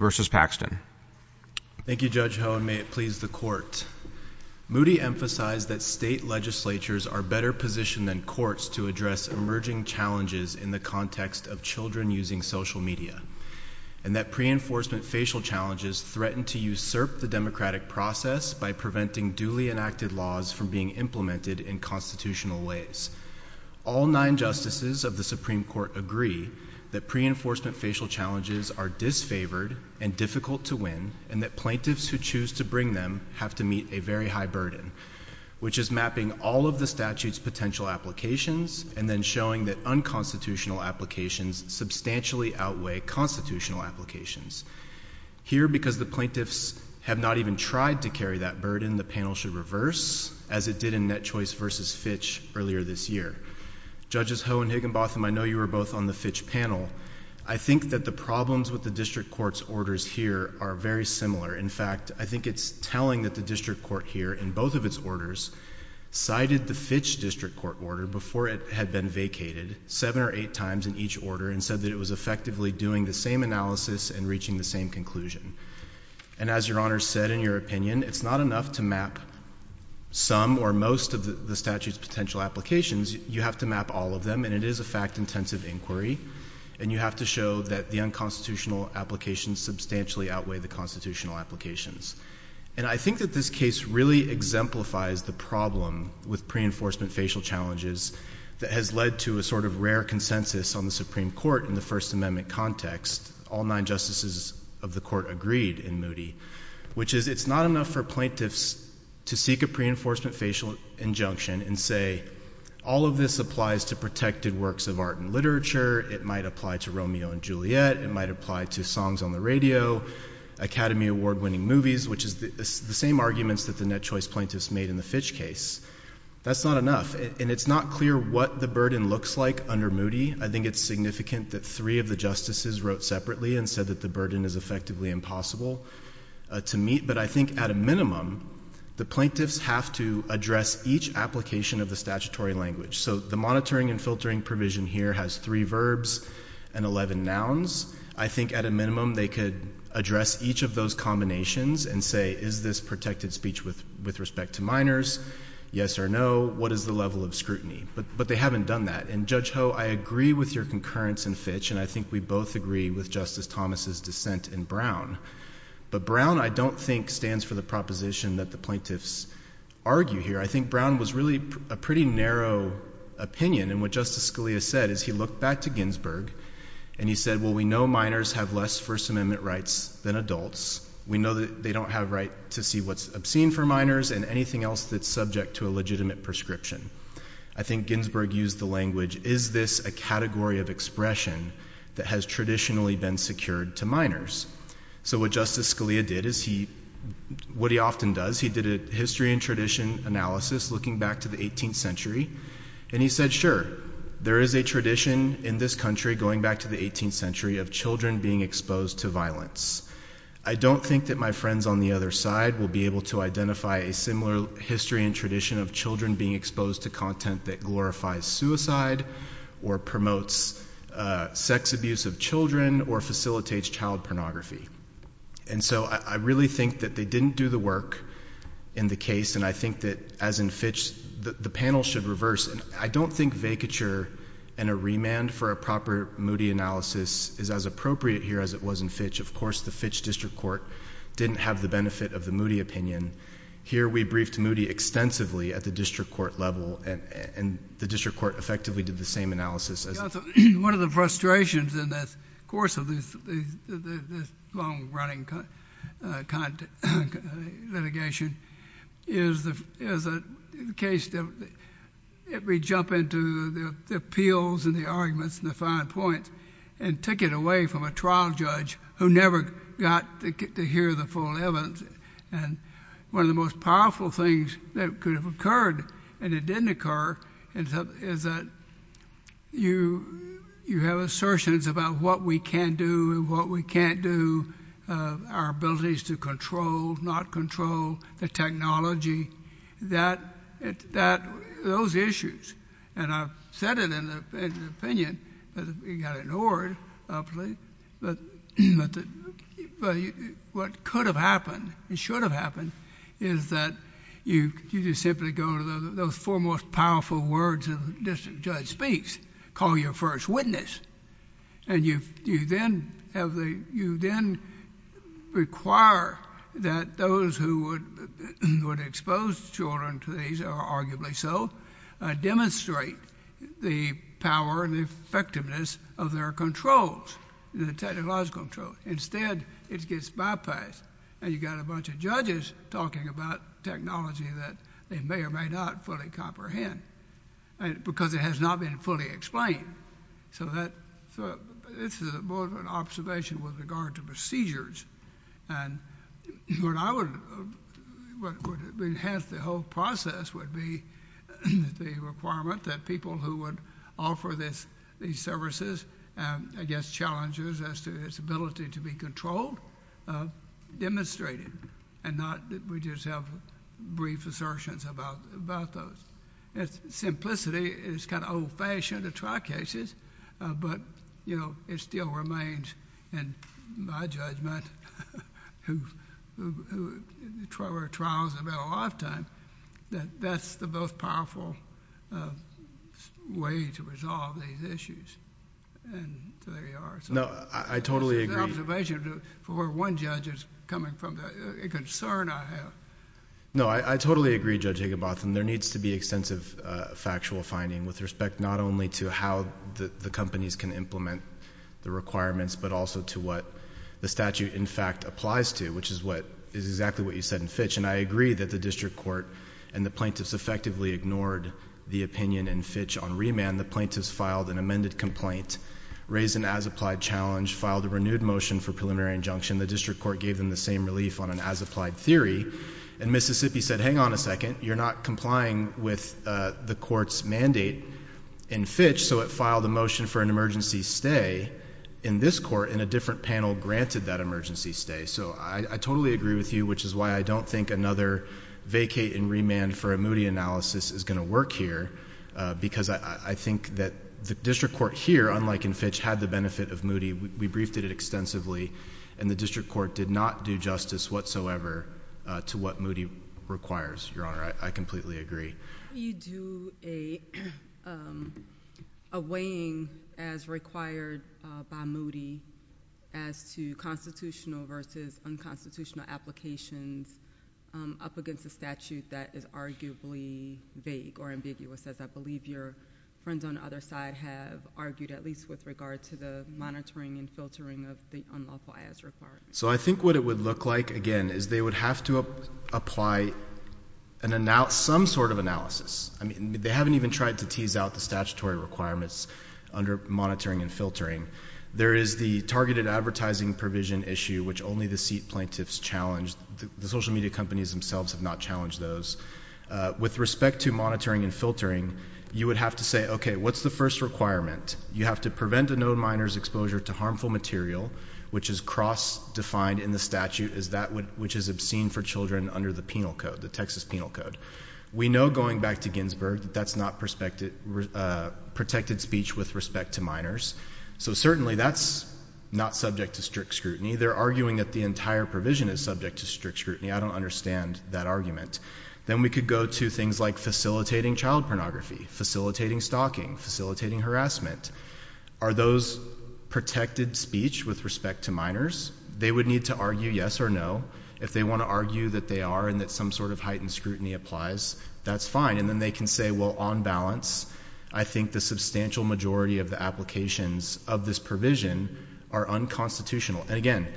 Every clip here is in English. v. Paxton Thank you, Judge Ho, and may it please the Court. Moody emphasized that state legislatures are better positioned than courts to address emerging challenges in the context of children using social media, and that pre-enforcement facial challenges threaten to usurp the democratic process by preventing duly enacted laws from being implemented in constitutional ways. All nine justices of the Supreme Court agree that pre-enforcement facial challenges are disfavored and difficult to win, and that plaintiffs who choose to bring them have to meet a very high burden, which is mapping all of the statute's potential applications and then showing that unconstitutional applications substantially outweigh constitutional applications. Here because the plaintiffs have not even tried to carry that burden, the panel should reverse, as it did in Net Choice v. Fitch earlier this year. Judges Ho and Higginbotham, I know you were both on the Fitch panel. I think that the problems with the District Court's orders here are very similar. In fact, I think it's telling that the District Court here, in both of its orders, cited the Fitch District Court order before it had been vacated seven or eight times in each order and said that it was effectively doing the same analysis and reaching the same conclusion. And as Your Honor said in your opinion, it's not enough to map some or most of the statute's potential applications. You have to map all of them, and it is a fact-intensive inquiry, and you have to show that the unconstitutional applications substantially outweigh the constitutional applications. And I think that this case really exemplifies the problem with pre-enforcement facial challenges that has led to a sort of rare consensus on the Supreme Court in the First Amendment context. All nine justices of the Court agreed in Moody, which is it's not enough for plaintiffs to seek a pre-enforcement facial injunction and say, all of this applies to protected works of art and literature, it might apply to Romeo and Juliet, it might apply to songs on the radio, Academy Award winning movies, which is the same arguments that the Net Choice plaintiffs made in the Fitch case. That's not enough. And it's not clear what the burden looks like under Moody. I think it's significant that three of the justices wrote separately and said that the burden is effectively impossible to meet. But I think at a minimum, the plaintiffs have to address each application of the statutory language. So the monitoring and filtering provision here has three verbs and 11 nouns. I think at a minimum, they could address each of those combinations and say, is this protected speech with respect to minors, yes or no, what is the level of scrutiny? But they haven't done that. And Judge Ho, I agree with your concurrence in Fitch, and I think we both agree with Justice Thomas's dissent in Brown. But Brown, I don't think, stands for the proposition that the plaintiffs argue here. I think Brown was really a pretty narrow opinion. And what Justice Scalia said is he looked back to Ginsburg and he said, well, we know minors have less First Amendment rights than adults. We know that they don't have right to see what's obscene for minors and anything else that's subject to a legitimate prescription. I think Ginsburg used the language, is this a category of expression that has traditionally been secured to minors? So what Justice Scalia did is he, what he often does, he did a history and tradition analysis looking back to the 18th century, and he said, sure, there is a tradition in this country going back to the 18th century of children being exposed to violence. I don't think that my friends on the other side will be able to identify a similar history and tradition of children being exposed to content that glorifies suicide or promotes sex abuse of children or facilitates child pornography. And so I really think that they didn't do the work in the case, and I think that as in Fitch, the panel should reverse. I don't think vacature and a remand for a proper Moody analysis is as appropriate here as it was in Fitch. Of course, the Fitch District Court didn't have the benefit of the Moody opinion. Here we briefed Moody extensively at the district court level, and the district court effectively did the same analysis. One of the frustrations in the course of this long-running litigation is the case that we jump into the appeals and the arguments and the fine points and take it away from a trial evidence. And one of the most powerful things that could have occurred and it didn't occur is that you have assertions about what we can do and what we can't do, our abilities to control, not control, the technology, those issues. And I've said it in the opinion, but it got ignored, but what could have happened and should have happened is that you just simply go to those four most powerful words a district judge speaks, call your first witness, and you then require that those who would expose children to these, or arguably so, demonstrate the power and effectiveness of their controls, the technological controls. Instead, it gets bypassed, and you've got a bunch of judges talking about technology that they may or may not fully comprehend because it has not been fully explained. So this is more of an observation with regard to procedures. And what I would, what would enhance the whole process would be the requirement that people who would offer these services, I guess, challenges as to its ability to be controlled, demonstrate it and not that we just have brief assertions about those. Simplicity is kind of old-fashioned in trial cases, but, you know, it still remains, in my judgment, who trials have been a lifetime, that that's the most powerful way to resolve these issues. And so there you are. So... No, I totally agree... I agree with the extensive factual finding with respect not only to how the companies can implement the requirements, but also to what the statute, in fact, applies to, which is what, is exactly what you said in Fitch. And I agree that the district court and the plaintiffs effectively ignored the opinion in Fitch on remand. The plaintiffs filed an amended complaint, raised an as-applied challenge, filed a renewed motion for preliminary injunction. The district court gave them the same relief on an as-applied theory. And Mississippi said, hang on a second. You're not complying with the court's mandate in Fitch, so it filed a motion for an emergency stay in this court, and a different panel granted that emergency stay. So I totally agree with you, which is why I don't think another vacate and remand for a Moody analysis is going to work here, because I think that the district court here, unlike in Fitch, had the benefit of Moody. We briefed it extensively, and the district court did not do justice whatsoever to what Moody requires, Your Honor. I completely agree. How do you do a weighing, as required by Moody, as to constitutional versus unconstitutional applications up against a statute that is arguably vague or ambiguous, as I believe your friends on the other side have argued, at least with regard to the monitoring and filtering of the unlawful as-requirements? So I think what it would look like, again, is they would have to apply some sort of analysis. They haven't even tried to tease out the statutory requirements under monitoring and filtering. There is the targeted advertising provision issue, which only the seat plaintiffs challenged. The social media companies themselves have not challenged those. With respect to monitoring and filtering, you would have to say, okay, what's the first requirement? You have to prevent a no-minors exposure to harmful material, which is cross-defined in the statute, which is obscene for children under the penal code, the Texas penal code. We know, going back to Ginsburg, that that's not protected speech with respect to minors. So certainly, that's not subject to strict scrutiny. They're arguing that the entire provision is subject to strict scrutiny. I don't understand that argument. Then we could go to things like facilitating child pornography, facilitating stalking, facilitating harassment. Are those protected speech with respect to minors? They would need to argue yes or no. If they want to argue that they are and that some sort of heightened scrutiny applies, that's fine. And then they can say, well, on balance, I think the substantial majority of the applications of this provision are unconstitutional. And again,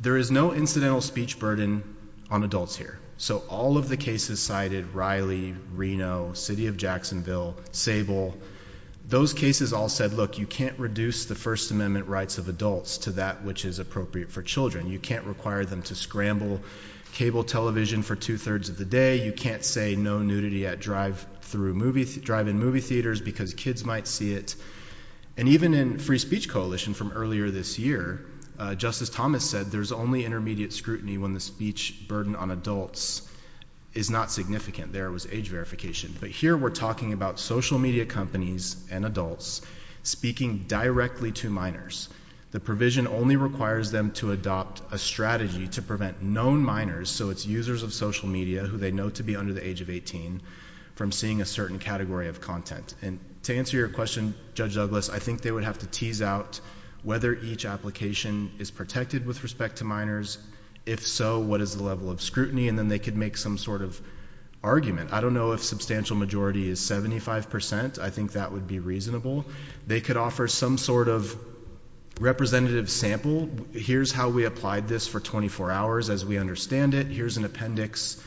there is no incidental speech burden on adults here. So all of the cases cited, Riley, Reno, City of Jacksonville, Sable, those cases all said, look, you can't reduce the First Amendment rights of adults to that which is appropriate for children. You can't require them to scramble cable television for two-thirds of the day. You can't say no nudity at drive-in movie theaters because kids might see it. And even in Free Speech Coalition from earlier this year, Justice Thomas said, there's only intermediate scrutiny when the speech burden on adults is not significant. There was age verification. But here we're talking about social media companies and adults speaking directly to minors. The provision only requires them to adopt a strategy to prevent known minors, so it's users of social media who they know to be under the age of 18, from seeing a certain category of content. And to answer your question, Judge Douglas, I think they would have to tease out whether each application is protected with respect to minors, if so, what is the level of scrutiny, and then they could make some sort of argument. I don't know if substantial majority is 75%, I think that would be reasonable. They could offer some sort of representative sample. Here's how we applied this for 24 hours as we understand it. Here's an appendix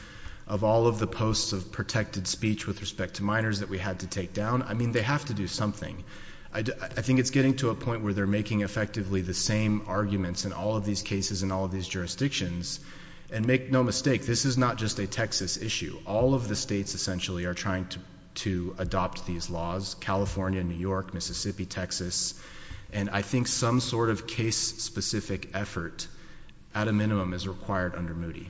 of all of the posts of protected speech with respect to minors that we had to take down. I mean, they have to do something. I think it's getting to a point where they're making effectively the same arguments in all of these cases and all of these jurisdictions. And make no mistake, this is not just a Texas issue. All of the states essentially are trying to adopt these laws, California, New York, Mississippi, Texas. And I think some sort of case specific effort, at a minimum, is required under Moody.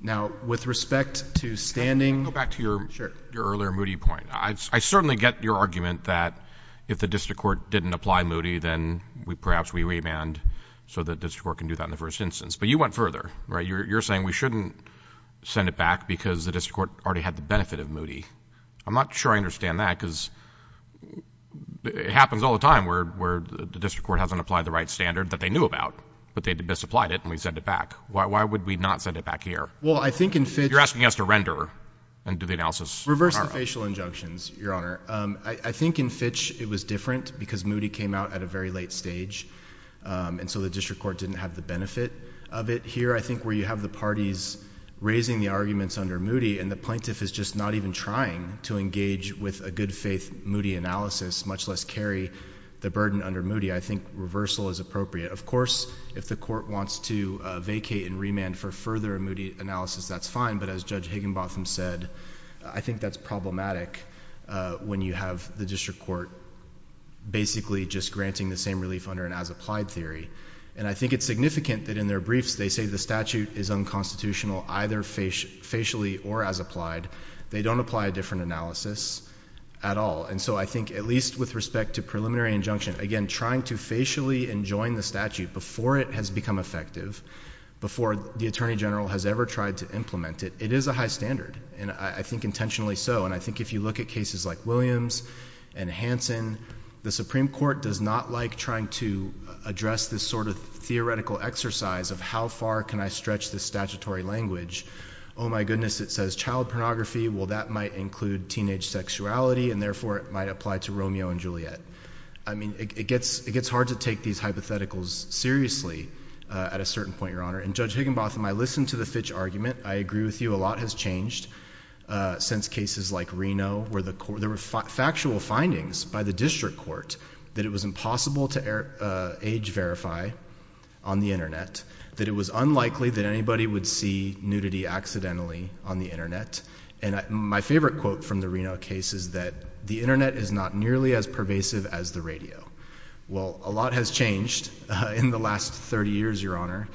Now, with respect to standing- Back to your earlier Moody point, I certainly get your argument that if the district court didn't apply Moody, then perhaps we remand so the district court can do that in the first instance. But you went further, right? You're saying we shouldn't send it back because the district court already had the benefit of Moody. I'm not sure I understand that because it happens all the time where the district court hasn't applied the right standard that they knew about. But they misapplied it and we send it back. Why would we not send it back here? Well, I think in Fitch- You're asking us to render and do the analysis. Reverse the facial injunctions, your honor. I think in Fitch it was different because Moody came out at a very late stage. And so the district court didn't have the benefit of it. Here, I think where you have the parties raising the arguments under Moody and the plaintiff is just not even trying to engage with a good faith Moody analysis, much less carry the burden under Moody, I think reversal is appropriate. Of course, if the court wants to vacate and remand for further Moody analysis, that's fine. But as Judge Higginbotham said, I think that's problematic when you have the district court basically just granting the same relief under an as applied theory. And I think it's significant that in their briefs they say the statute is unconstitutional either facially or as applied. They don't apply a different analysis at all. And so I think at least with respect to preliminary injunction, again, trying to facially enjoin the statute before it has become effective, before the Attorney General has ever tried to implement it, it is a high standard. And I think intentionally so. And I think if you look at cases like Williams and Hanson, the Supreme Court does not like trying to address this sort of theoretical exercise of how far can I stretch this statutory language. My goodness, it says child pornography, well that might include teenage sexuality and therefore it might apply to Romeo and Juliet. I mean, it gets hard to take these hypotheticals seriously at a certain point, Your Honor. And Judge Higginbotham, I listened to the Fitch argument. I agree with you, a lot has changed since cases like Reno where there were factual findings by the district court that it was impossible to age verify on the Internet. That it was unlikely that anybody would see nudity accidentally on the Internet. And my favorite quote from the Reno case is that the Internet is not nearly as pervasive as the radio. Well, a lot has changed in the last 30 years, Your Honor.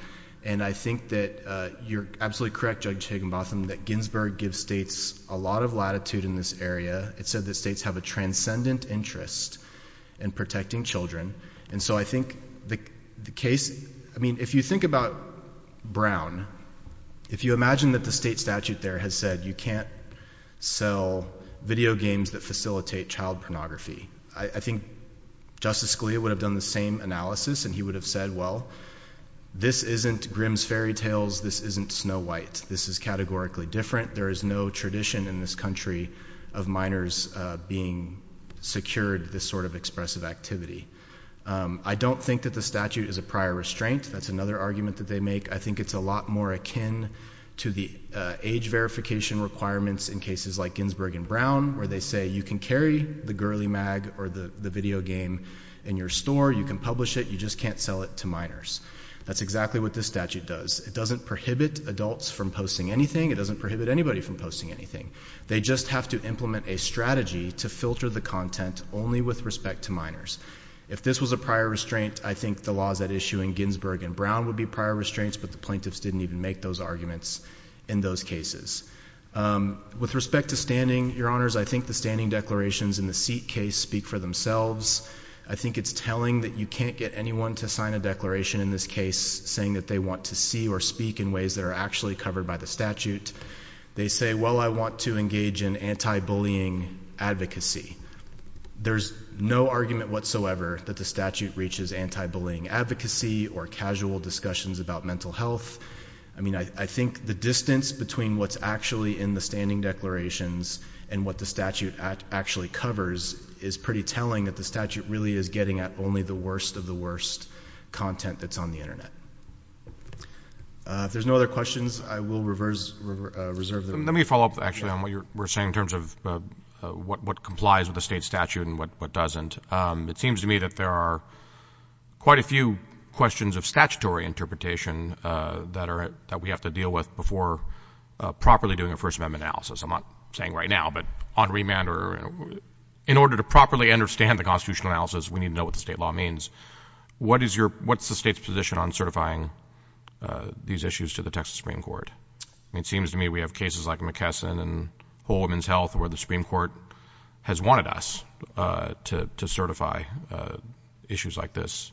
And I think that you're absolutely correct, Judge Higginbotham, that Ginsburg gives states a lot of latitude in this area. It said that states have a transcendent interest in protecting children. And so I think the case, I mean, if you think about Brown, if you imagine that the state statute there has said you can't sell video games that facilitate child pornography. I think Justice Scalia would have done the same analysis and he would have said, well, this isn't Grimm's Fairy Tales, this isn't Snow White. This is categorically different. There is no tradition in this country of minors being secured this sort of expressive activity. I don't think that the statute is a prior restraint. That's another argument that they make. I think it's a lot more akin to the age verification requirements in cases like Ginsburg and Brown, where they say you can carry the girly mag or the video game in your store. You can publish it, you just can't sell it to minors. That's exactly what this statute does. It doesn't prohibit adults from posting anything. It doesn't prohibit anybody from posting anything. They just have to implement a strategy to filter the content only with respect to minors. If this was a prior restraint, I think the laws at issue in Ginsburg and Brown would be prior restraints, but the plaintiffs didn't even make those arguments in those cases. With respect to standing, your honors, I think the standing declarations in the seat case speak for themselves. I think it's telling that you can't get anyone to sign a declaration in this case saying that they want to see or speak in ways that are actually covered by the statute. They say, well, I want to engage in anti-bullying advocacy. There's no argument whatsoever that the statute reaches anti-bullying advocacy or casual discussions about mental health. I mean, I think the distance between what's actually in the standing declarations and what the statute actually covers is pretty telling that the statute really is getting at only the worst of the worst content that's on the Internet. If there's no other questions, I will reserve the- Let me follow up, actually, on what you were saying in terms of what complies with the state statute and what doesn't. It seems to me that there are quite a few questions of statutory interpretation that we have to deal with before properly doing a First Amendment analysis. I'm not saying right now, but on remand or in order to properly understand the constitutional analysis, we need to know what the state law means. What's the state's position on certifying these issues to the Texas Supreme Court? It seems to me we have cases like McKesson and Whole Woman's Health where the Supreme Court has wanted us to certify issues like this.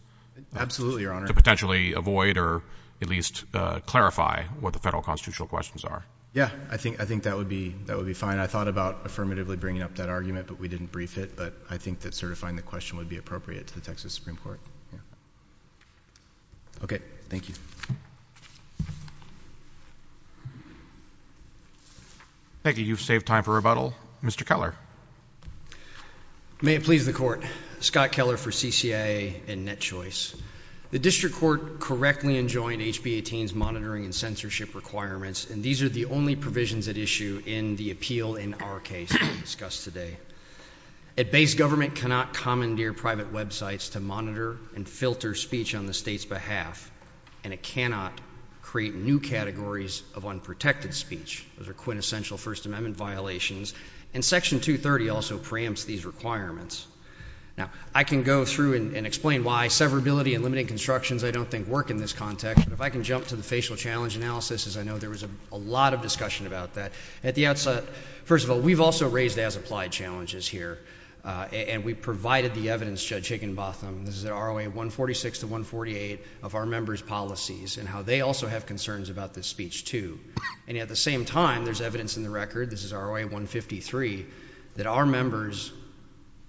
Absolutely, Your Honor. To potentially avoid or at least clarify what the federal constitutional questions are. Yeah, I think that would be fine. I thought about affirmatively bringing up that argument, but we didn't brief it. But I think that certifying the question would be appropriate to the Texas Supreme Court. Okay, thank you. Thank you, you've saved time for rebuttal. Mr. Keller. May it please the court. Scott Keller for CCIA and NetChoice. The district court correctly enjoined HB 18's monitoring and censorship requirements, and these are the only provisions at issue in the appeal in our case discussed today. A base government cannot commandeer private websites to monitor and filter speech on the state's behalf. And it cannot create new categories of unprotected speech. Those are quintessential First Amendment violations. And section 230 also preempts these requirements. Now, I can go through and explain why severability and limiting constructions I don't think work in this context. If I can jump to the facial challenge analysis, as I know there was a lot of discussion about that. At the outset, first of all, we've also raised as applied challenges here, and we provided the evidence, Judge Higginbotham. This is ROA 146 to 148 of our members' policies and how they also have concerns about this speech too. And at the same time, there's evidence in the record, this is ROA 153, that our members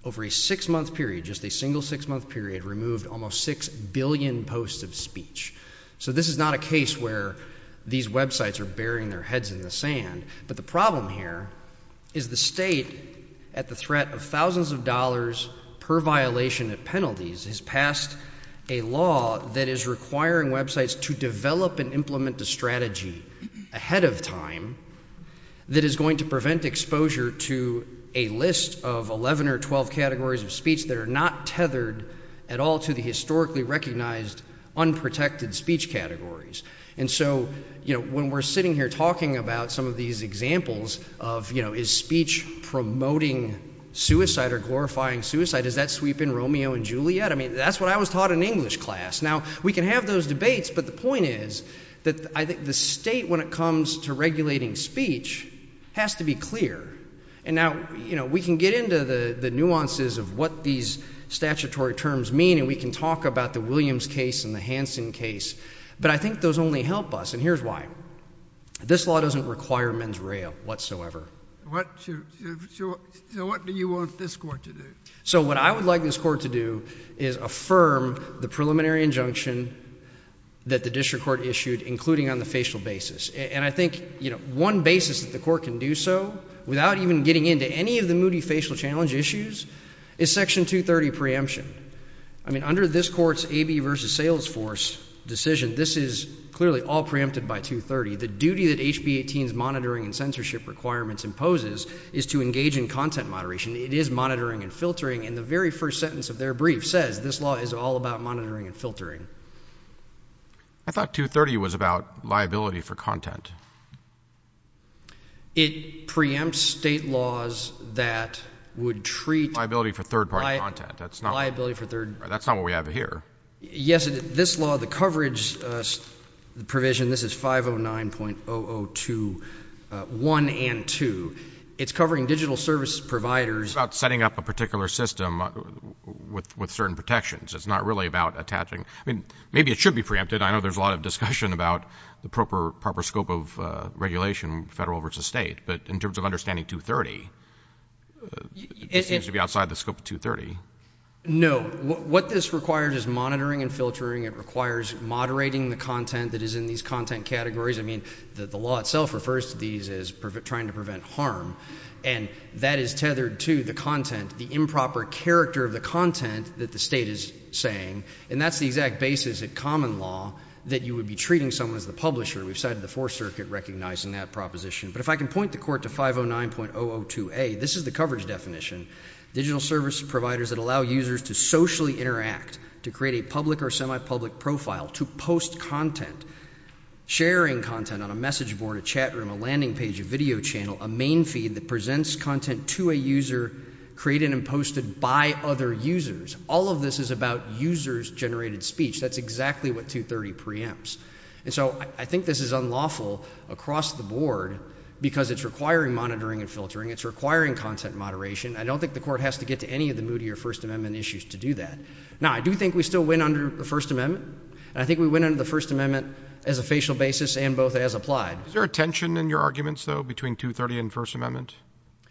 over a six month period, just a single six month period, removed almost 6 billion posts of speech. So this is not a case where these websites are burying their heads in the sand. But the problem here is the state, at the threat of thousands of dollars per violation of penalties, has passed a law that is requiring websites to develop and implement a strategy ahead of time that is going to prevent exposure to a list of 11 or 12 categories of speech that are not tethered at all to the historically recognized unprotected speech categories. And so, when we're sitting here talking about some of these examples of is speech promoting suicide or glorifying suicide, does that sweep in Romeo and Juliet? I mean, that's what I was taught in English class. Now, we can have those debates, but the point is that I think the state, when it comes to regulating speech, has to be clear. And now, we can get into the nuances of what these statutory terms mean, and we can talk about the Williams case and the Hansen case. But I think those only help us, and here's why. This law doesn't require men's rail whatsoever. So what do you want this court to do? So what I would like this court to do is affirm the preliminary injunction that the district court issued, including on the facial basis. And I think one basis that the court can do so, without even getting into any of the moody facial challenge issues, is section 230 preemption. I mean, under this court's AB versus Salesforce decision, this is clearly all preempted by 230. The duty that HB 18's monitoring and censorship requirements imposes is to engage in content moderation. It is monitoring and filtering. And the very first sentence of their brief says, this law is all about monitoring and filtering. I thought 230 was about liability for content. It preempts state laws that would treat- Liability for third party content. Liability for third- That's not what we have here. Yes, this law, the coverage provision, this is 509.002, one and two. It's covering digital service providers. About setting up a particular system with certain protections. It's not really about attaching. I mean, maybe it should be preempted. I know there's a lot of discussion about the proper scope of regulation, federal versus state. But in terms of understanding 230, it seems to be outside the scope of 230. No. What this requires is monitoring and filtering. It requires moderating the content that is in these content categories. I mean, the law itself refers to these as trying to prevent harm. And that is tethered to the content, the improper character of the content that the state is saying. And that's the exact basis of common law that you would be treating someone as the publisher. We've cited the Fourth Circuit recognizing that proposition. But if I can point the court to 509.002A, this is the coverage definition. Digital service providers that allow users to socially interact, to create a public or semi-public profile, to post content, sharing content on a message board, a chat room, a landing page, a video channel. A main feed that presents content to a user created and posted by other users. All of this is about users generated speech. That's exactly what 230 preempts. And so I think this is unlawful across the board because it's requiring monitoring and filtering. It's requiring content moderation. I don't think the court has to get to any of the moodier First Amendment issues to do that. Now, I do think we still win under the First Amendment. I think we win under the First Amendment as a facial basis and both as applied. Is there a tension in your arguments, though, between 230 and First Amendment?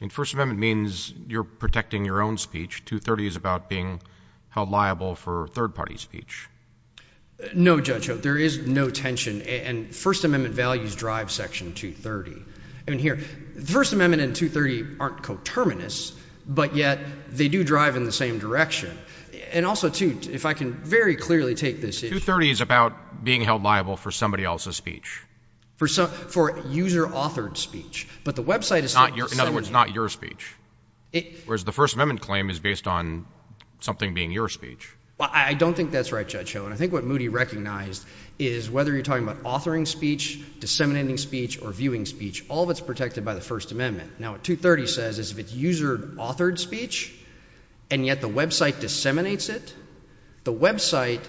I mean, First Amendment means you're protecting your own speech. 230 is about being held liable for third party speech. No, Judge Holt. There is no tension. And First Amendment values drive Section 230. I mean, here, First Amendment and 230 aren't coterminous, but yet they do drive in the same direction. And also, too, if I can very clearly take this issue. 230 is about being held liable for somebody else's speech. For user-authored speech. But the website is saying— In other words, not your speech. Whereas the First Amendment claim is based on something being your speech. Well, I don't think that's right, Judge Holt. And I think what Moody recognized is whether you're talking about authoring speech, disseminating speech, or viewing speech, all of it's protected by the First Amendment. Now, what 230 says is if it's user-authored speech and yet the website disseminates it, the website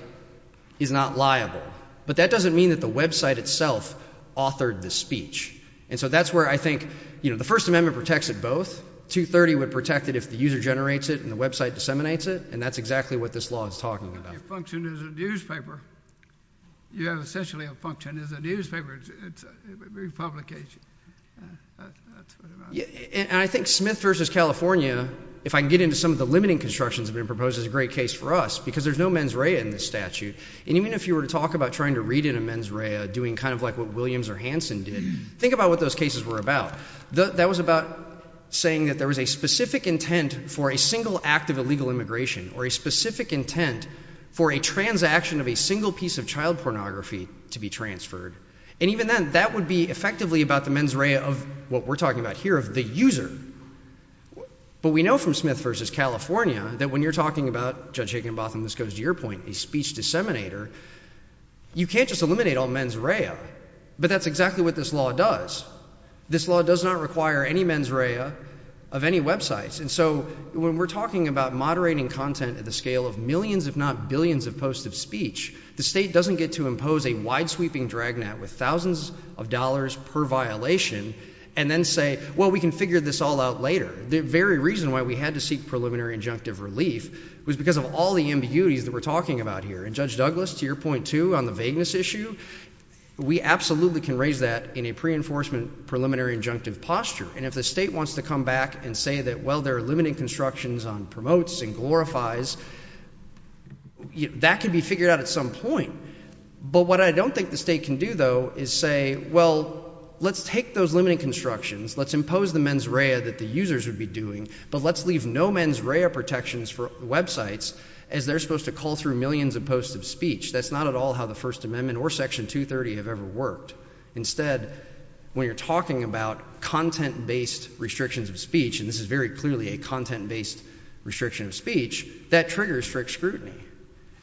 is not liable. But that doesn't mean that the website itself authored the speech. And so that's where I think, you know, the First Amendment protects it both. 230 would protect it if the user generates it and the website disseminates it. And that's exactly what this law is talking about. You have a function as a newspaper. You have essentially a function as a newspaper. It's a big publication. And I think Smith v. California, if I can get into some of the limiting constructions that have been proposed, is a great case for us. Because there's no mens rea in this statute. And even if you were to talk about trying to read in a mens rea, doing kind of like what Williams or Hansen did, think about what those cases were about. That was about saying that there was a specific intent for a single act of illegal immigration or a specific intent for a transaction of a single piece of child pornography to be transferred. And even then, that would be effectively about the mens rea of what we're talking about here, of the user. But we know from Smith v. California that when you're talking about, Judge Higginbotham, this goes to your point, a speech disseminator, you can't just eliminate all mens rea. But that's exactly what this law does. This law does not require any mens rea of any websites. And so when we're talking about moderating content at the scale of millions, if not billions, of posts of speech, the state doesn't get to impose a wide-sweeping dragnet with thousands of dollars per violation and then say, well, we can figure this all out later. The very reason why we had to seek preliminary injunctive relief was because of all the ambiguities that we're talking about here. And Judge Douglas, to your point, too, on the vagueness issue, we absolutely can raise that in a pre-enforcement preliminary injunctive posture. And if the state wants to come back and say that, well, there are limiting constructions on promotes and glorifies, that can be figured out at some point. But what I don't think the state can do, though, is say, well, let's take those limiting constructions, let's impose the mens rea that the users would be doing, but let's leave no mens rea protections for websites, as they're supposed to call through millions of posts of speech. That's not at all how the First Amendment or Section 230 have ever worked. Instead, when you're talking about content-based restrictions of speech, and this is very clearly a content-based restriction of speech, that triggers strict scrutiny.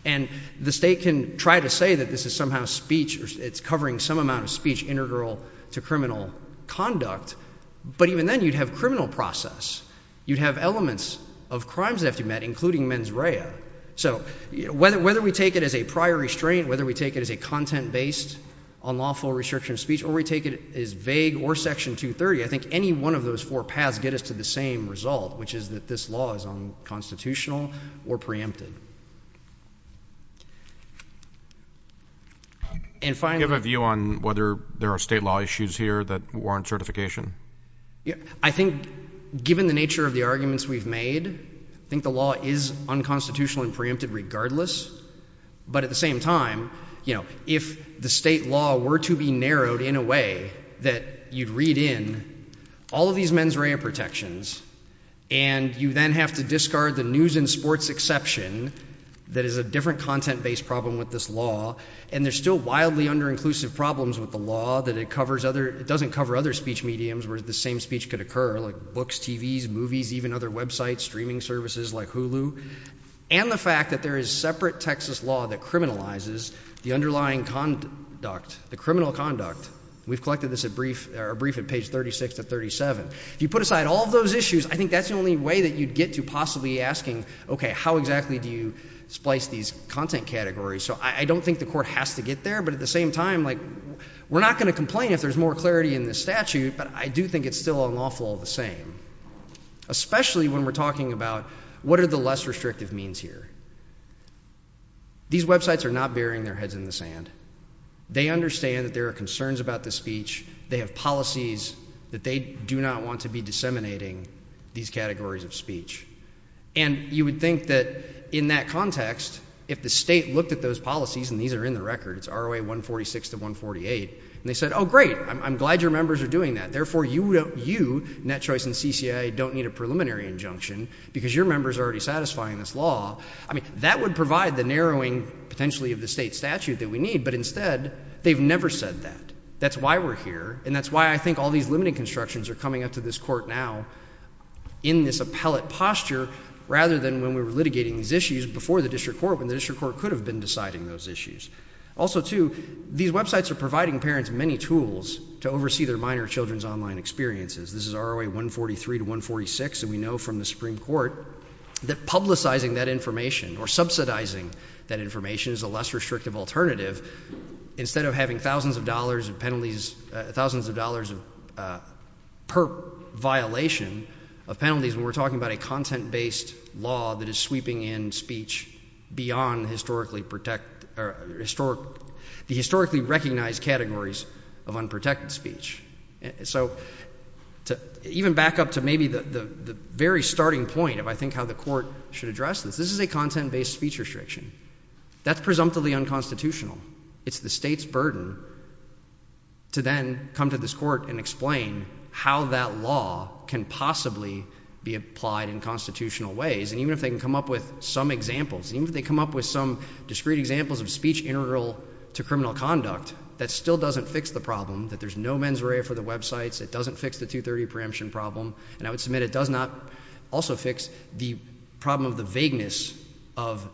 And the state can try to say that this is somehow speech, or it's covering some amount of speech integral to criminal conduct. But even then, you'd have criminal process. You'd have elements of crimes that have to be met, including mens rea. So whether we take it as a prior restraint, whether we take it as a content-based unlawful restriction of speech, or we take it as vague or Section 230, I think any one of those four paths get us to the same result, which is that this law is unconstitutional or preempted. And finally- Do you have a view on whether there are state law issues here that warrant certification? Yeah, I think given the nature of the arguments we've made, I think the law is unconstitutional and preempted regardless. But at the same time, if the state law were to be narrowed in a way that you'd read in all of these mens rea protections, and you then have to discard the news and sports exception that is a different content-based problem with this law. And there's still wildly under-inclusive problems with the law that it doesn't cover other speech mediums where the same speech could occur, like books, TVs, movies, even other websites, streaming services like Hulu. And the fact that there is separate Texas law that criminalizes the underlying conduct, the criminal conduct. We've collected this brief at page 36 to 37. If you put aside all of those issues, I think that's the only way that you'd get to possibly asking, okay, how exactly do you splice these content categories? So I don't think the court has to get there, but at the same time, we're not going to complain if there's more clarity in this statute. But I do think it's still unlawful all the same, especially when we're talking about what are the less restrictive means here? These websites are not burying their heads in the sand. They understand that there are concerns about this speech. They have policies that they do not want to be disseminating these categories of speech. And you would think that in that context, if the state looked at those policies, and these are in the record, it's ROA 146 to 148, and they said, oh, great, I'm glad your members are doing that. Therefore, you, Net Choice and CCIA, don't need a preliminary injunction because your members are already satisfying this law. I mean, that would provide the narrowing, potentially, of the state statute that we need. But instead, they've never said that. That's why we're here. And that's why I think all these limiting constructions are coming up to this court now in this appellate posture, rather than when we were litigating these issues before the district court, when the district court could have been deciding those issues. Also, too, these websites are providing parents many tools to oversee their minor children's online experiences. This is ROA 143 to 146, and we know from the Supreme Court that publicizing that information, or subsidizing that information, is a less restrictive alternative. Instead of having thousands of dollars of penalties, thousands of dollars per violation of penalties, when we're talking about a content-based law that is sweeping in speech beyond the historically recognized categories of unprotected speech. So, even back up to maybe the very starting point of, I think, how the court should address this. This is a content-based speech restriction. That's presumptively unconstitutional. It's the state's burden to then come to this court and explain how that law can possibly be applied in constitutional ways. And even if they can come up with some examples, even if they come up with some discrete examples of speech integral to criminal conduct, that still doesn't fix the problem, that there's no mens rea for the websites, it doesn't fix the 230 preemption problem. And I would submit it does not also fix the problem of the vagueness of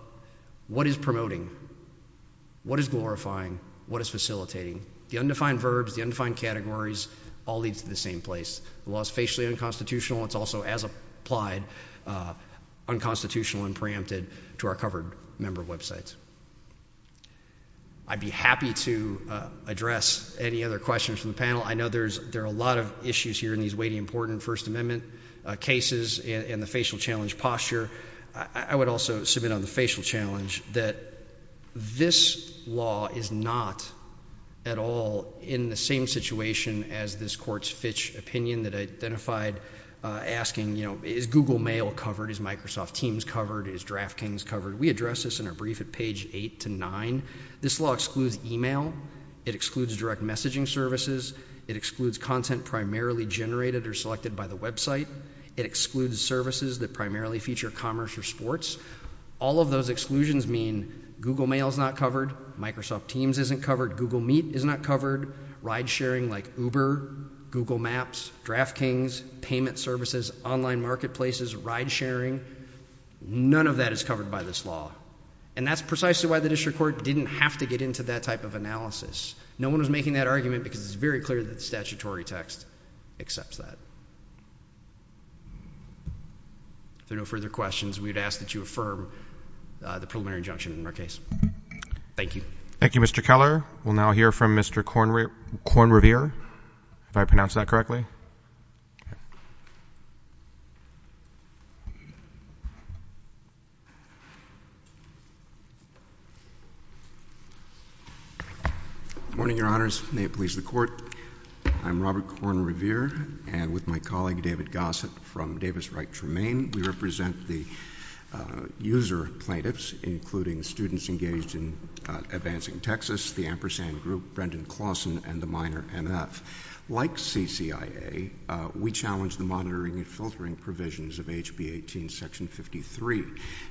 what is promoting, what is glorifying, what is facilitating. The undefined verbs, the undefined categories all lead to the same place. The law is facially unconstitutional, it's also, as applied, unconstitutional and preempted to our covered member websites. I'd be happy to address any other questions from the panel. I know there are a lot of issues here in these weighty important First Amendment cases and the facial challenge posture. I would also submit on the facial challenge that this law is not at all in the same situation as this court's Fitch opinion that I identified asking is Google Mail covered, is Microsoft Teams covered, is DraftKings covered? We addressed this in our brief at page eight to nine. This law excludes email. It excludes direct messaging services. It excludes content primarily generated or selected by the website. It excludes services that primarily feature commerce or sports. All of those exclusions mean Google Mail's not covered, Microsoft Teams isn't covered, Google Meet is not covered, ride sharing like Uber, Google Maps, DraftKings, payment services, online marketplaces, ride sharing. None of that is covered by this law. And that's precisely why the district court didn't have to get into that type of analysis. No one was making that argument because it's very clear that the statutory text accepts that. If there are no further questions, we'd ask that you affirm the preliminary injunction in our case. Thank you. Thank you, Mr. Keller. We'll now hear from Mr. Kornrevere, if I pronounced that correctly. Good morning, your honors. May it please the court. I'm Robert Kornrevere, and with my colleague David Gossett from Davis-Wright-Tremaine. We represent the user plaintiffs, including students engaged in Advancing Texas, the Ampersand Group, Brendan Clawson, and the Minor MF. Like CCIA, we challenge the monitoring and filtering provisions of HB 18 section 53.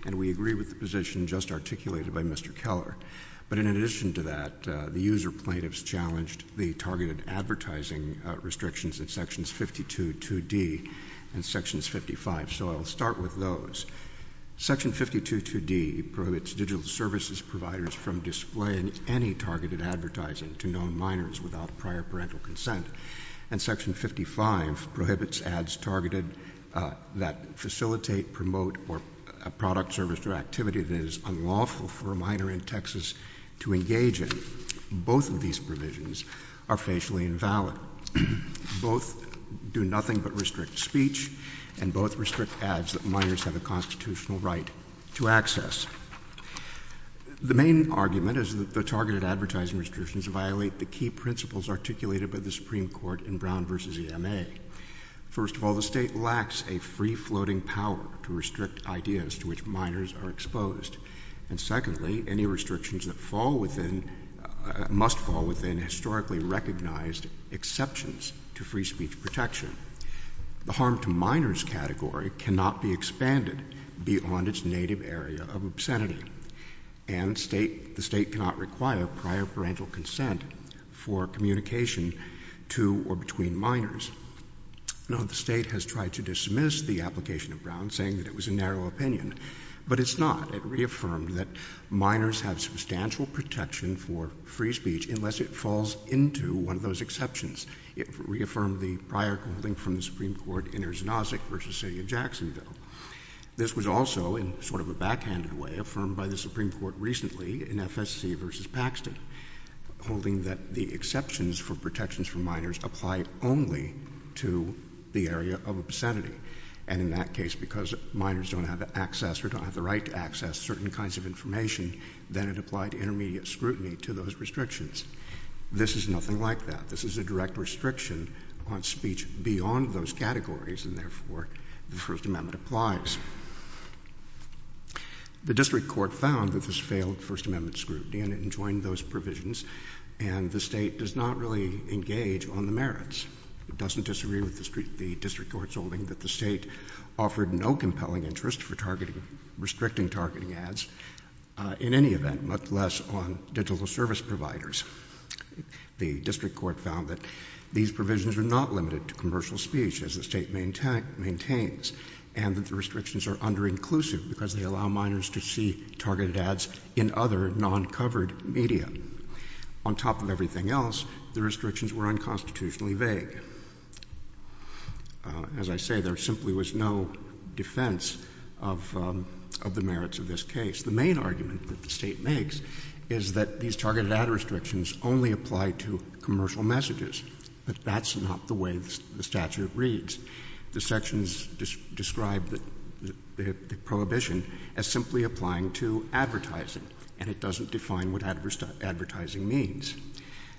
And we agree with the position just articulated by Mr. Keller. But in addition to that, the user plaintiffs challenged the targeted advertising restrictions in sections 52, 2D and sections 55. So I'll start with those. Section 52, 2D prohibits digital services providers from displaying any targeted advertising to known minors without prior parental consent. And section 55 prohibits ads targeted that facilitate, promote, or a product, service, or activity that is unlawful for a minor in Texas to engage in. Both of these provisions are facially invalid. Both do nothing but restrict speech, and both restrict ads that minors have a constitutional right to access. The main argument is that the targeted advertising restrictions violate the key principles articulated by the Supreme Court in Brown versus EMA. First of all, the state lacks a free floating power to restrict ideas to which minors are exposed. And secondly, any restrictions that fall within, must fall within historically recognized exceptions to free speech protection. The harm to minors category cannot be expanded beyond its native area of obscenity. And the state cannot require prior parental consent for communication to or between minors. Now the state has tried to dismiss the application of Brown, saying that it was a narrow opinion. But it's not. It reaffirmed that minors have substantial protection for free speech unless it falls into one of those exceptions. It reaffirmed the prior ruling from the Supreme Court in Erznozik versus City of Jacksonville. This was also, in sort of a backhanded way, affirmed by the Supreme Court recently in FSC versus Paxton. Holding that the exceptions for protections for minors apply only to the area of obscenity. And in that case, because minors don't have access or don't have the right to access certain kinds of information, then it applied intermediate scrutiny to those restrictions. This is nothing like that. This is a direct restriction on speech beyond those categories, and therefore the First Amendment applies. The district court found that this failed First Amendment scrutiny and it enjoined those provisions. And the state does not really engage on the merits. It doesn't disagree with the district court's holding that the state offered no compelling interest for restricting targeting ads in any event, much less on digital service providers. The district court found that these provisions are not limited to commercial speech, as the state maintains. And that the restrictions are under-inclusive, because they allow minors to see targeted ads in other non-covered media. On top of everything else, the restrictions were unconstitutionally vague. As I say, there simply was no defense of the merits of this case. The main argument that the state makes is that these targeted ad restrictions only apply to commercial messages. But that's not the way the statute reads. The sections describe the prohibition as simply applying to advertising. And it doesn't define what advertising means.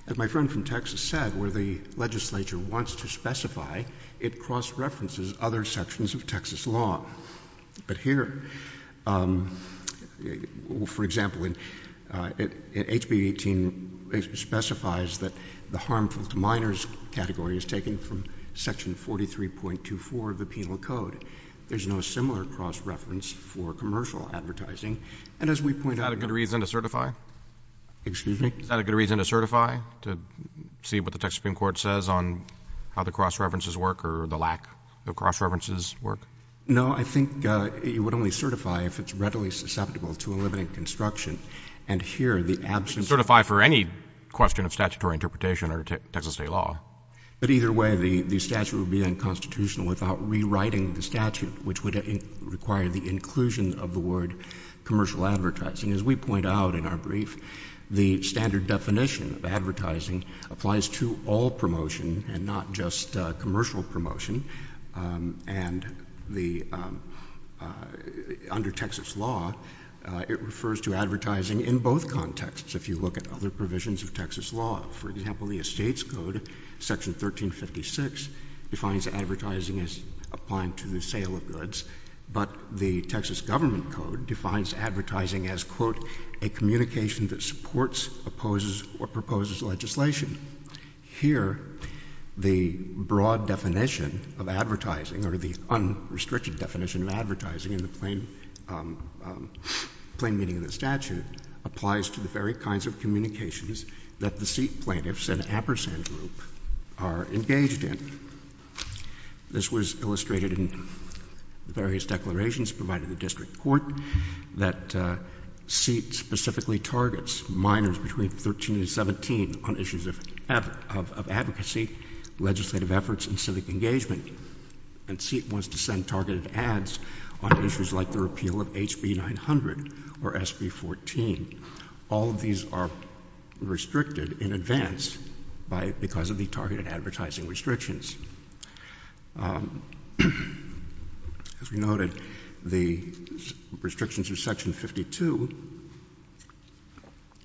As my friend from Texas said, where the legislature wants to specify, it cross-references other sections of Texas law. But here, for example, HB 18 specifies that the harmful to minors category is taken from section 43.24 of the penal code. There's no similar cross-reference for commercial advertising. And as we point out- Is that a good reason to certify? Excuse me? Is that a good reason to certify, to see what the Texas Supreme Court says on how the cross-references work, or the lack of cross-references work? No, I think it would only certify if it's readily susceptible to a limited construction. And here, the absence- Certify for any question of statutory interpretation or Texas state law. But either way, the statute would be unconstitutional without rewriting the statute, which would require the inclusion of the word commercial advertising. As we point out in our brief, the standard definition of advertising applies to all promotion and not just commercial promotion, and under Texas law, it refers to advertising in both contexts, if you look at other provisions of Texas law. For example, the Estates Code, section 1356, defines advertising as applying to the sale of goods. But the Texas government code defines advertising as, quote, a communication that supports, opposes, or proposes legislation. Here, the broad definition of advertising, or the unrestricted definition of advertising in the plain meaning of the statute, applies to the very kinds of communications that the seat plaintiffs and appersent group are engaged in. This was illustrated in the various declarations provided in the district court that SEAT specifically targets minors between 13 and 17 on issues of advocacy, legislative efforts, and civic engagement. And SEAT wants to send targeted ads on issues like the repeal of HB 900 or SB 14. All of these are restricted in advance because of the targeted advertising restrictions. As we noted, the restrictions of section 52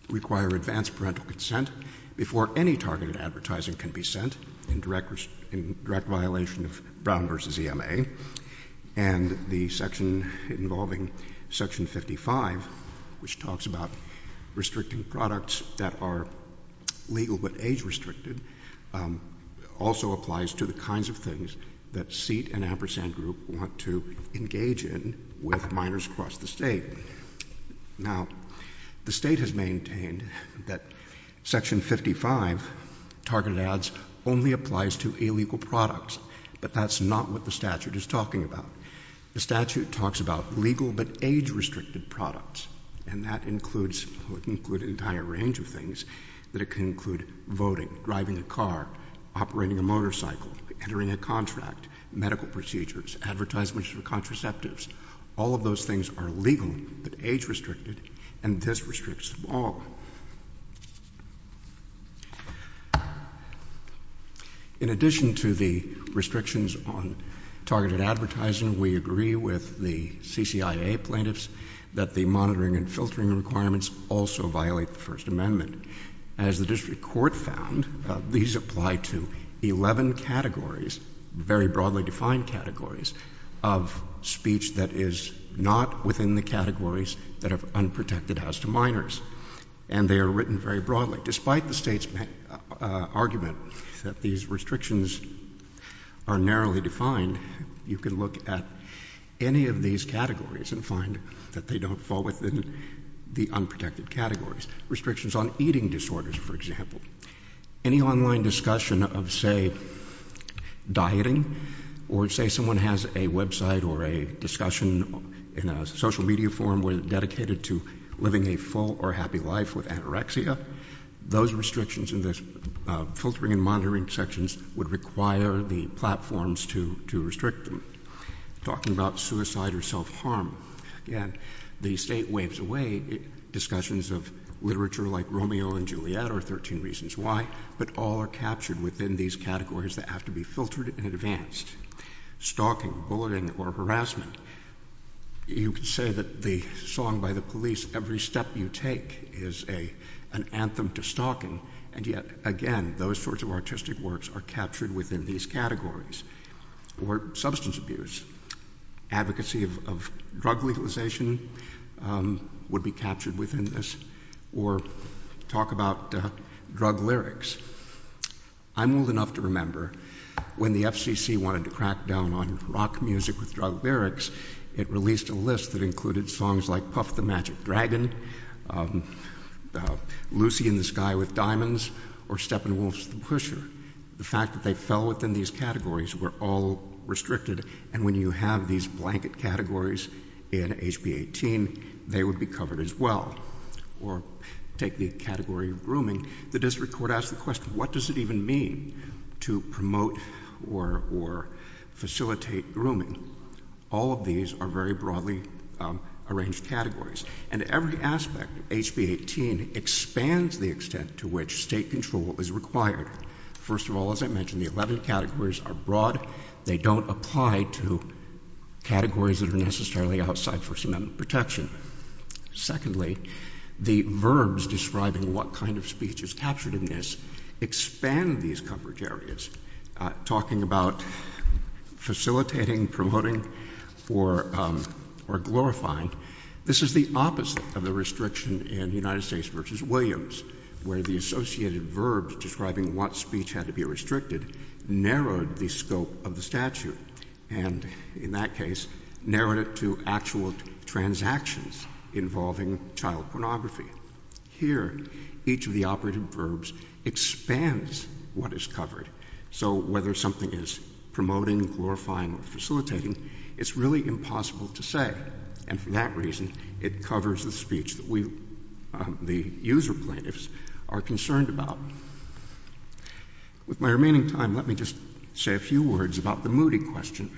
require advanced parental consent before any targeted advertising can be sent in direct violation of Brown versus EMA. And the section involving section 55, which talks about restricting products that are legal but age restricted, also applies to the kinds of things that SEAT and appersent group want to engage in with minors across the state. Now, the state has maintained that section 55, targeted ads, only applies to illegal products, but that's not what the statute is talking about. The statute talks about legal but age restricted products. And that includes an entire range of things, that it can include voting, driving a car, operating a motorcycle, entering a contract, medical procedures, advertisements for contraceptives. All of those things are legal but age restricted, and this restricts them all. In addition to the restrictions on targeted advertising, we agree with the CCIA plaintiffs that the monitoring and filtering requirements also violate the First Amendment. As the district court found, these apply to 11 categories, very broadly defined categories, of speech that is not within the categories that are unprotected as to minors. And they are written very broadly. Despite the state's argument that these restrictions are narrowly defined, you can look at any of these categories and find that they don't fall within the unprotected categories. Restrictions on eating disorders, for example. Any online discussion of, say, dieting, or say someone has a website or a discussion in a social media forum dedicated to living a full or happy life with anorexia. Those restrictions in the filtering and monitoring sections would require the platforms to restrict them. Talking about suicide or self-harm, again, the state waves away. Discussions of literature like Romeo and Juliet are 13 reasons why, but all are captured within these categories that have to be filtered and advanced. Stalking, bulleting, or harassment, you could say that the song by the police, Every Step You Take, is an anthem to stalking. And yet, again, those sorts of artistic works are captured within these categories. Or substance abuse, advocacy of drug legalization would be captured within this, or talk about drug lyrics. I'm old enough to remember when the FCC wanted to crack down on rock music with drug lyrics, it released a list that included songs like Puff the Magic Dragon, Lucy in the Sky with Diamonds, or Steppenwolf's The Pusher. The fact that they fell within these categories were all restricted, and when you have these blanket categories in HB 18, they would be covered as well. Or take the category of grooming, the district court asked the question, what does it even mean to promote or facilitate grooming? All of these are very broadly arranged categories. And every aspect of HB 18 expands the extent to which state control is required. First of all, as I mentioned, the 11 categories are broad. They don't apply to categories that are necessarily outside First Amendment protection. Secondly, the verbs describing what kind of speech is captured in this expand these coverage areas, talking about facilitating, promoting, or glorifying. This is the opposite of the restriction in United States versus Williams, where the associated verbs describing what speech had to be restricted narrowed the scope of the statute. And in that case, narrowed it to actual transactions involving child pornography. Here, each of the operative verbs expands what is covered. So whether something is promoting, glorifying, or facilitating, it's really impossible to say. And for that reason, it covers the speech that we, the user plaintiffs, are concerned about. With my remaining time, let me just say a few words about the moody question.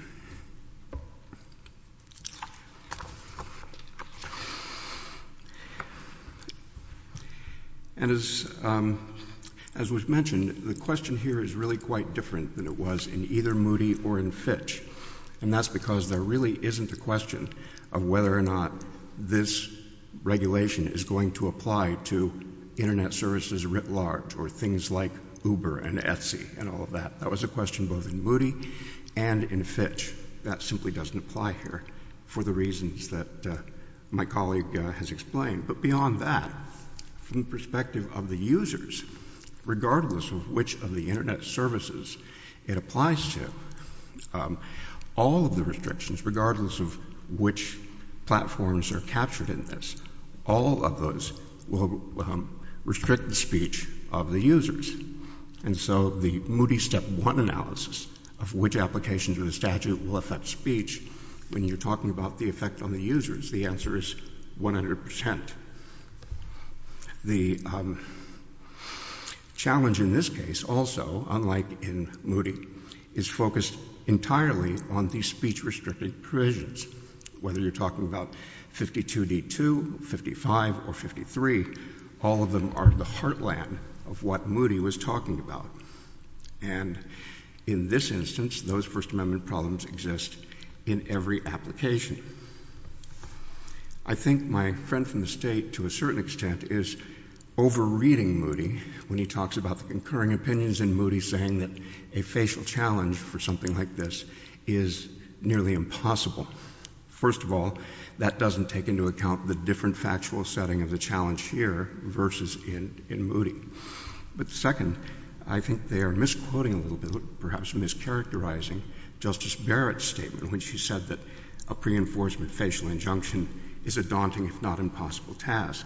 And as was mentioned, the question here is really quite different than it was in either Moody or in Fitch. And that's because there really isn't a question of whether or not this regulation is going to apply to Internet services writ large or things like Uber and Etsy and all of that. That was a question both in Moody and in Fitch. That simply doesn't apply here for the reasons that my colleague has explained. But beyond that, from the perspective of the users, regardless of which of the Internet services it applies to, all of the restrictions, regardless of which platforms are captured in this, all of those will restrict the speech of the users. And so the Moody step one analysis of which applications of the statute will affect speech, when you're talking about the effect on the users, the answer is 100%. The challenge in this case also, unlike in Moody, is focused entirely on the speech restricted provisions. Whether you're talking about 52D2, 55, or 53, all of them are the heartland of what Moody was talking about. And in this instance, those First Amendment problems exist in every application. I think my friend from the state, to a certain extent, is over reading Moody when he talks about the concurring opinions in Moody saying that a facial challenge for something like this is nearly impossible. First of all, that doesn't take into account the different factual setting of the challenge here versus in Moody. But second, I think they are misquoting a little bit, perhaps mischaracterizing Justice Barrett's statement when she said that a pre-enforcement facial injunction is a daunting, if not impossible, task.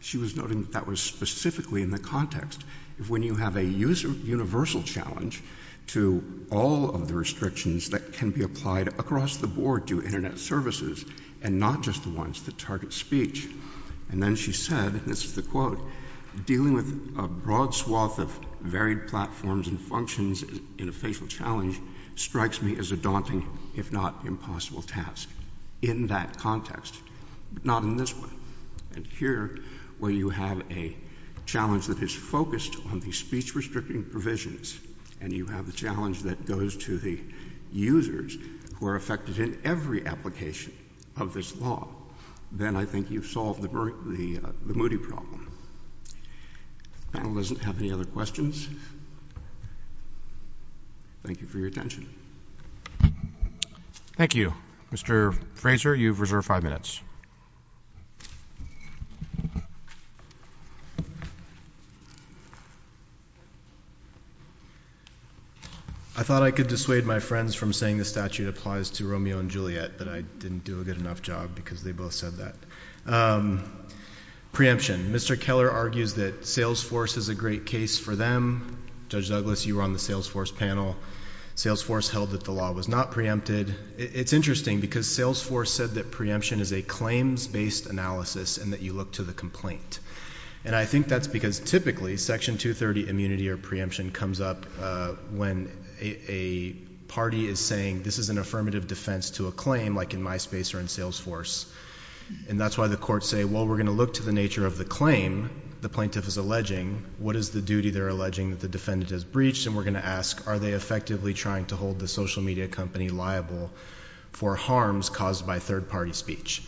She was noting that that was specifically in the context of when you have a universal challenge to all of the restrictions that can be applied across the board to Internet services and not just the ones that target speech. And then she said, and this is the quote, dealing with a broad swath of varied platforms and functions in a facial challenge strikes me as a daunting, if not impossible, task. In that context, but not in this one. And here, where you have a challenge that is focused on the speech restricting provisions, and you have a challenge that goes to the users who are affected in every application of this law. Then I think you've solved the Moody problem. If the panel doesn't have any other questions, thank you for your attention. Thank you. Mr. Frazer, you've reserved five minutes. I thought I could dissuade my friends from saying the statute applies to Romeo and Juliet, but I didn't do a good enough job because they both said that. Preemption, Mr. Keller argues that Salesforce is a great case for them. Judge Douglas, you were on the Salesforce panel. Salesforce held that the law was not preempted. It's interesting because Salesforce said that preemption is a claims based analysis and that you look to the complaint. And I think that's because typically section 230 immunity or preemption comes up when a party is saying this is an affirmative defense to a claim like in MySpace or in Salesforce. And that's why the courts say, well, we're going to look to the nature of the claim the plaintiff is alleging. What is the duty they're alleging that the defendant has breached? And we're going to ask, are they effectively trying to hold the social media company liable for harms caused by third party speech?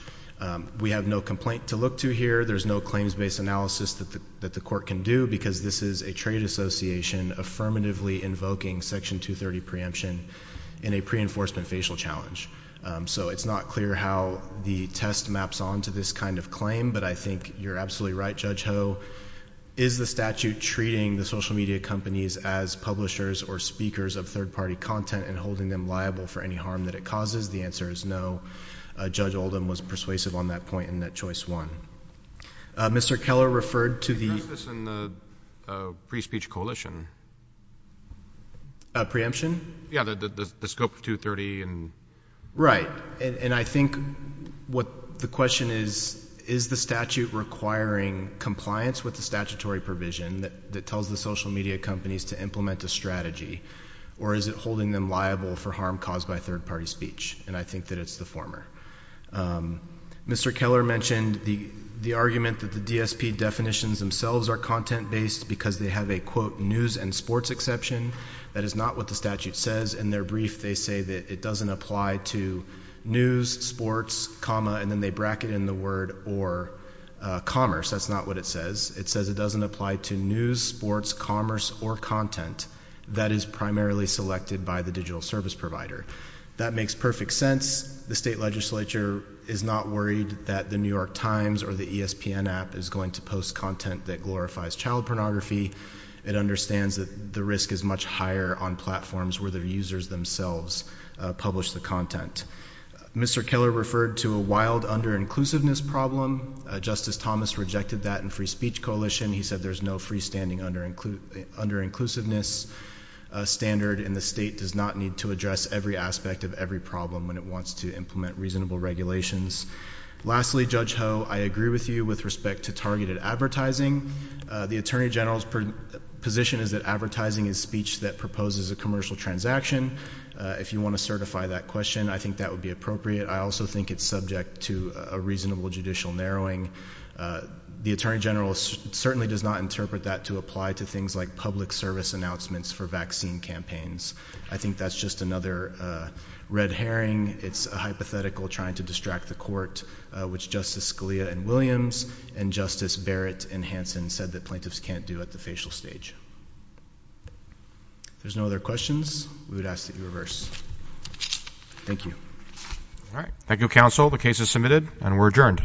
We have no complaint to look to here. There's no claims based analysis that the court can do because this is a trade association affirmatively invoking section 230 preemption in a pre-enforcement facial challenge. So it's not clear how the test maps on to this kind of claim, but I think you're absolutely right, Judge Ho. Is the statute treating the social media companies as publishers or speakers of third party content and holding them liable for any harm that it causes? The answer is no. Judge Oldham was persuasive on that point and that choice won. Mr. Keller referred to the- Preemption? Yeah, the scope of 230 and- Right, and I think what the question is, is the statute requiring compliance with the statutory provision that tells the social media companies to implement a strategy? Or is it holding them liable for harm caused by third party speech? And I think that it's the former. Mr. Keller mentioned the argument that the DSP definitions themselves are content based because they have a quote, news and sports exception. That is not what the statute says. In their brief, they say that it doesn't apply to news, sports, comma, and then they bracket in the word or commerce. That's not what it says. It says it doesn't apply to news, sports, commerce, or content that is primarily selected by the digital service provider. That makes perfect sense. The state legislature is not worried that the New York Times or the ESPN app is going to post content that glorifies child pornography. It understands that the risk is much higher on platforms where the users themselves publish the content. Mr. Keller referred to a wild under-inclusiveness problem. Justice Thomas rejected that in Free Speech Coalition. He said there's no freestanding under-inclusiveness standard and the state does not need to address every aspect of every problem when it wants to implement reasonable regulations. Lastly, Judge Ho, I agree with you with respect to targeted advertising. The Attorney General's position is that advertising is speech that proposes a commercial transaction. If you want to certify that question, I think that would be appropriate. I also think it's subject to a reasonable judicial narrowing. The Attorney General certainly does not interpret that to apply to things like public service announcements for vaccine campaigns. I think that's just another red herring. It's a hypothetical trying to distract the court, which Justice Scalia and Williams and Justice Barrett and Hanson said that plaintiffs can't do at the facial stage. If there's no other questions, we would ask that you reverse. Thank you. All right, thank you, counsel. The case is submitted and we're adjourned.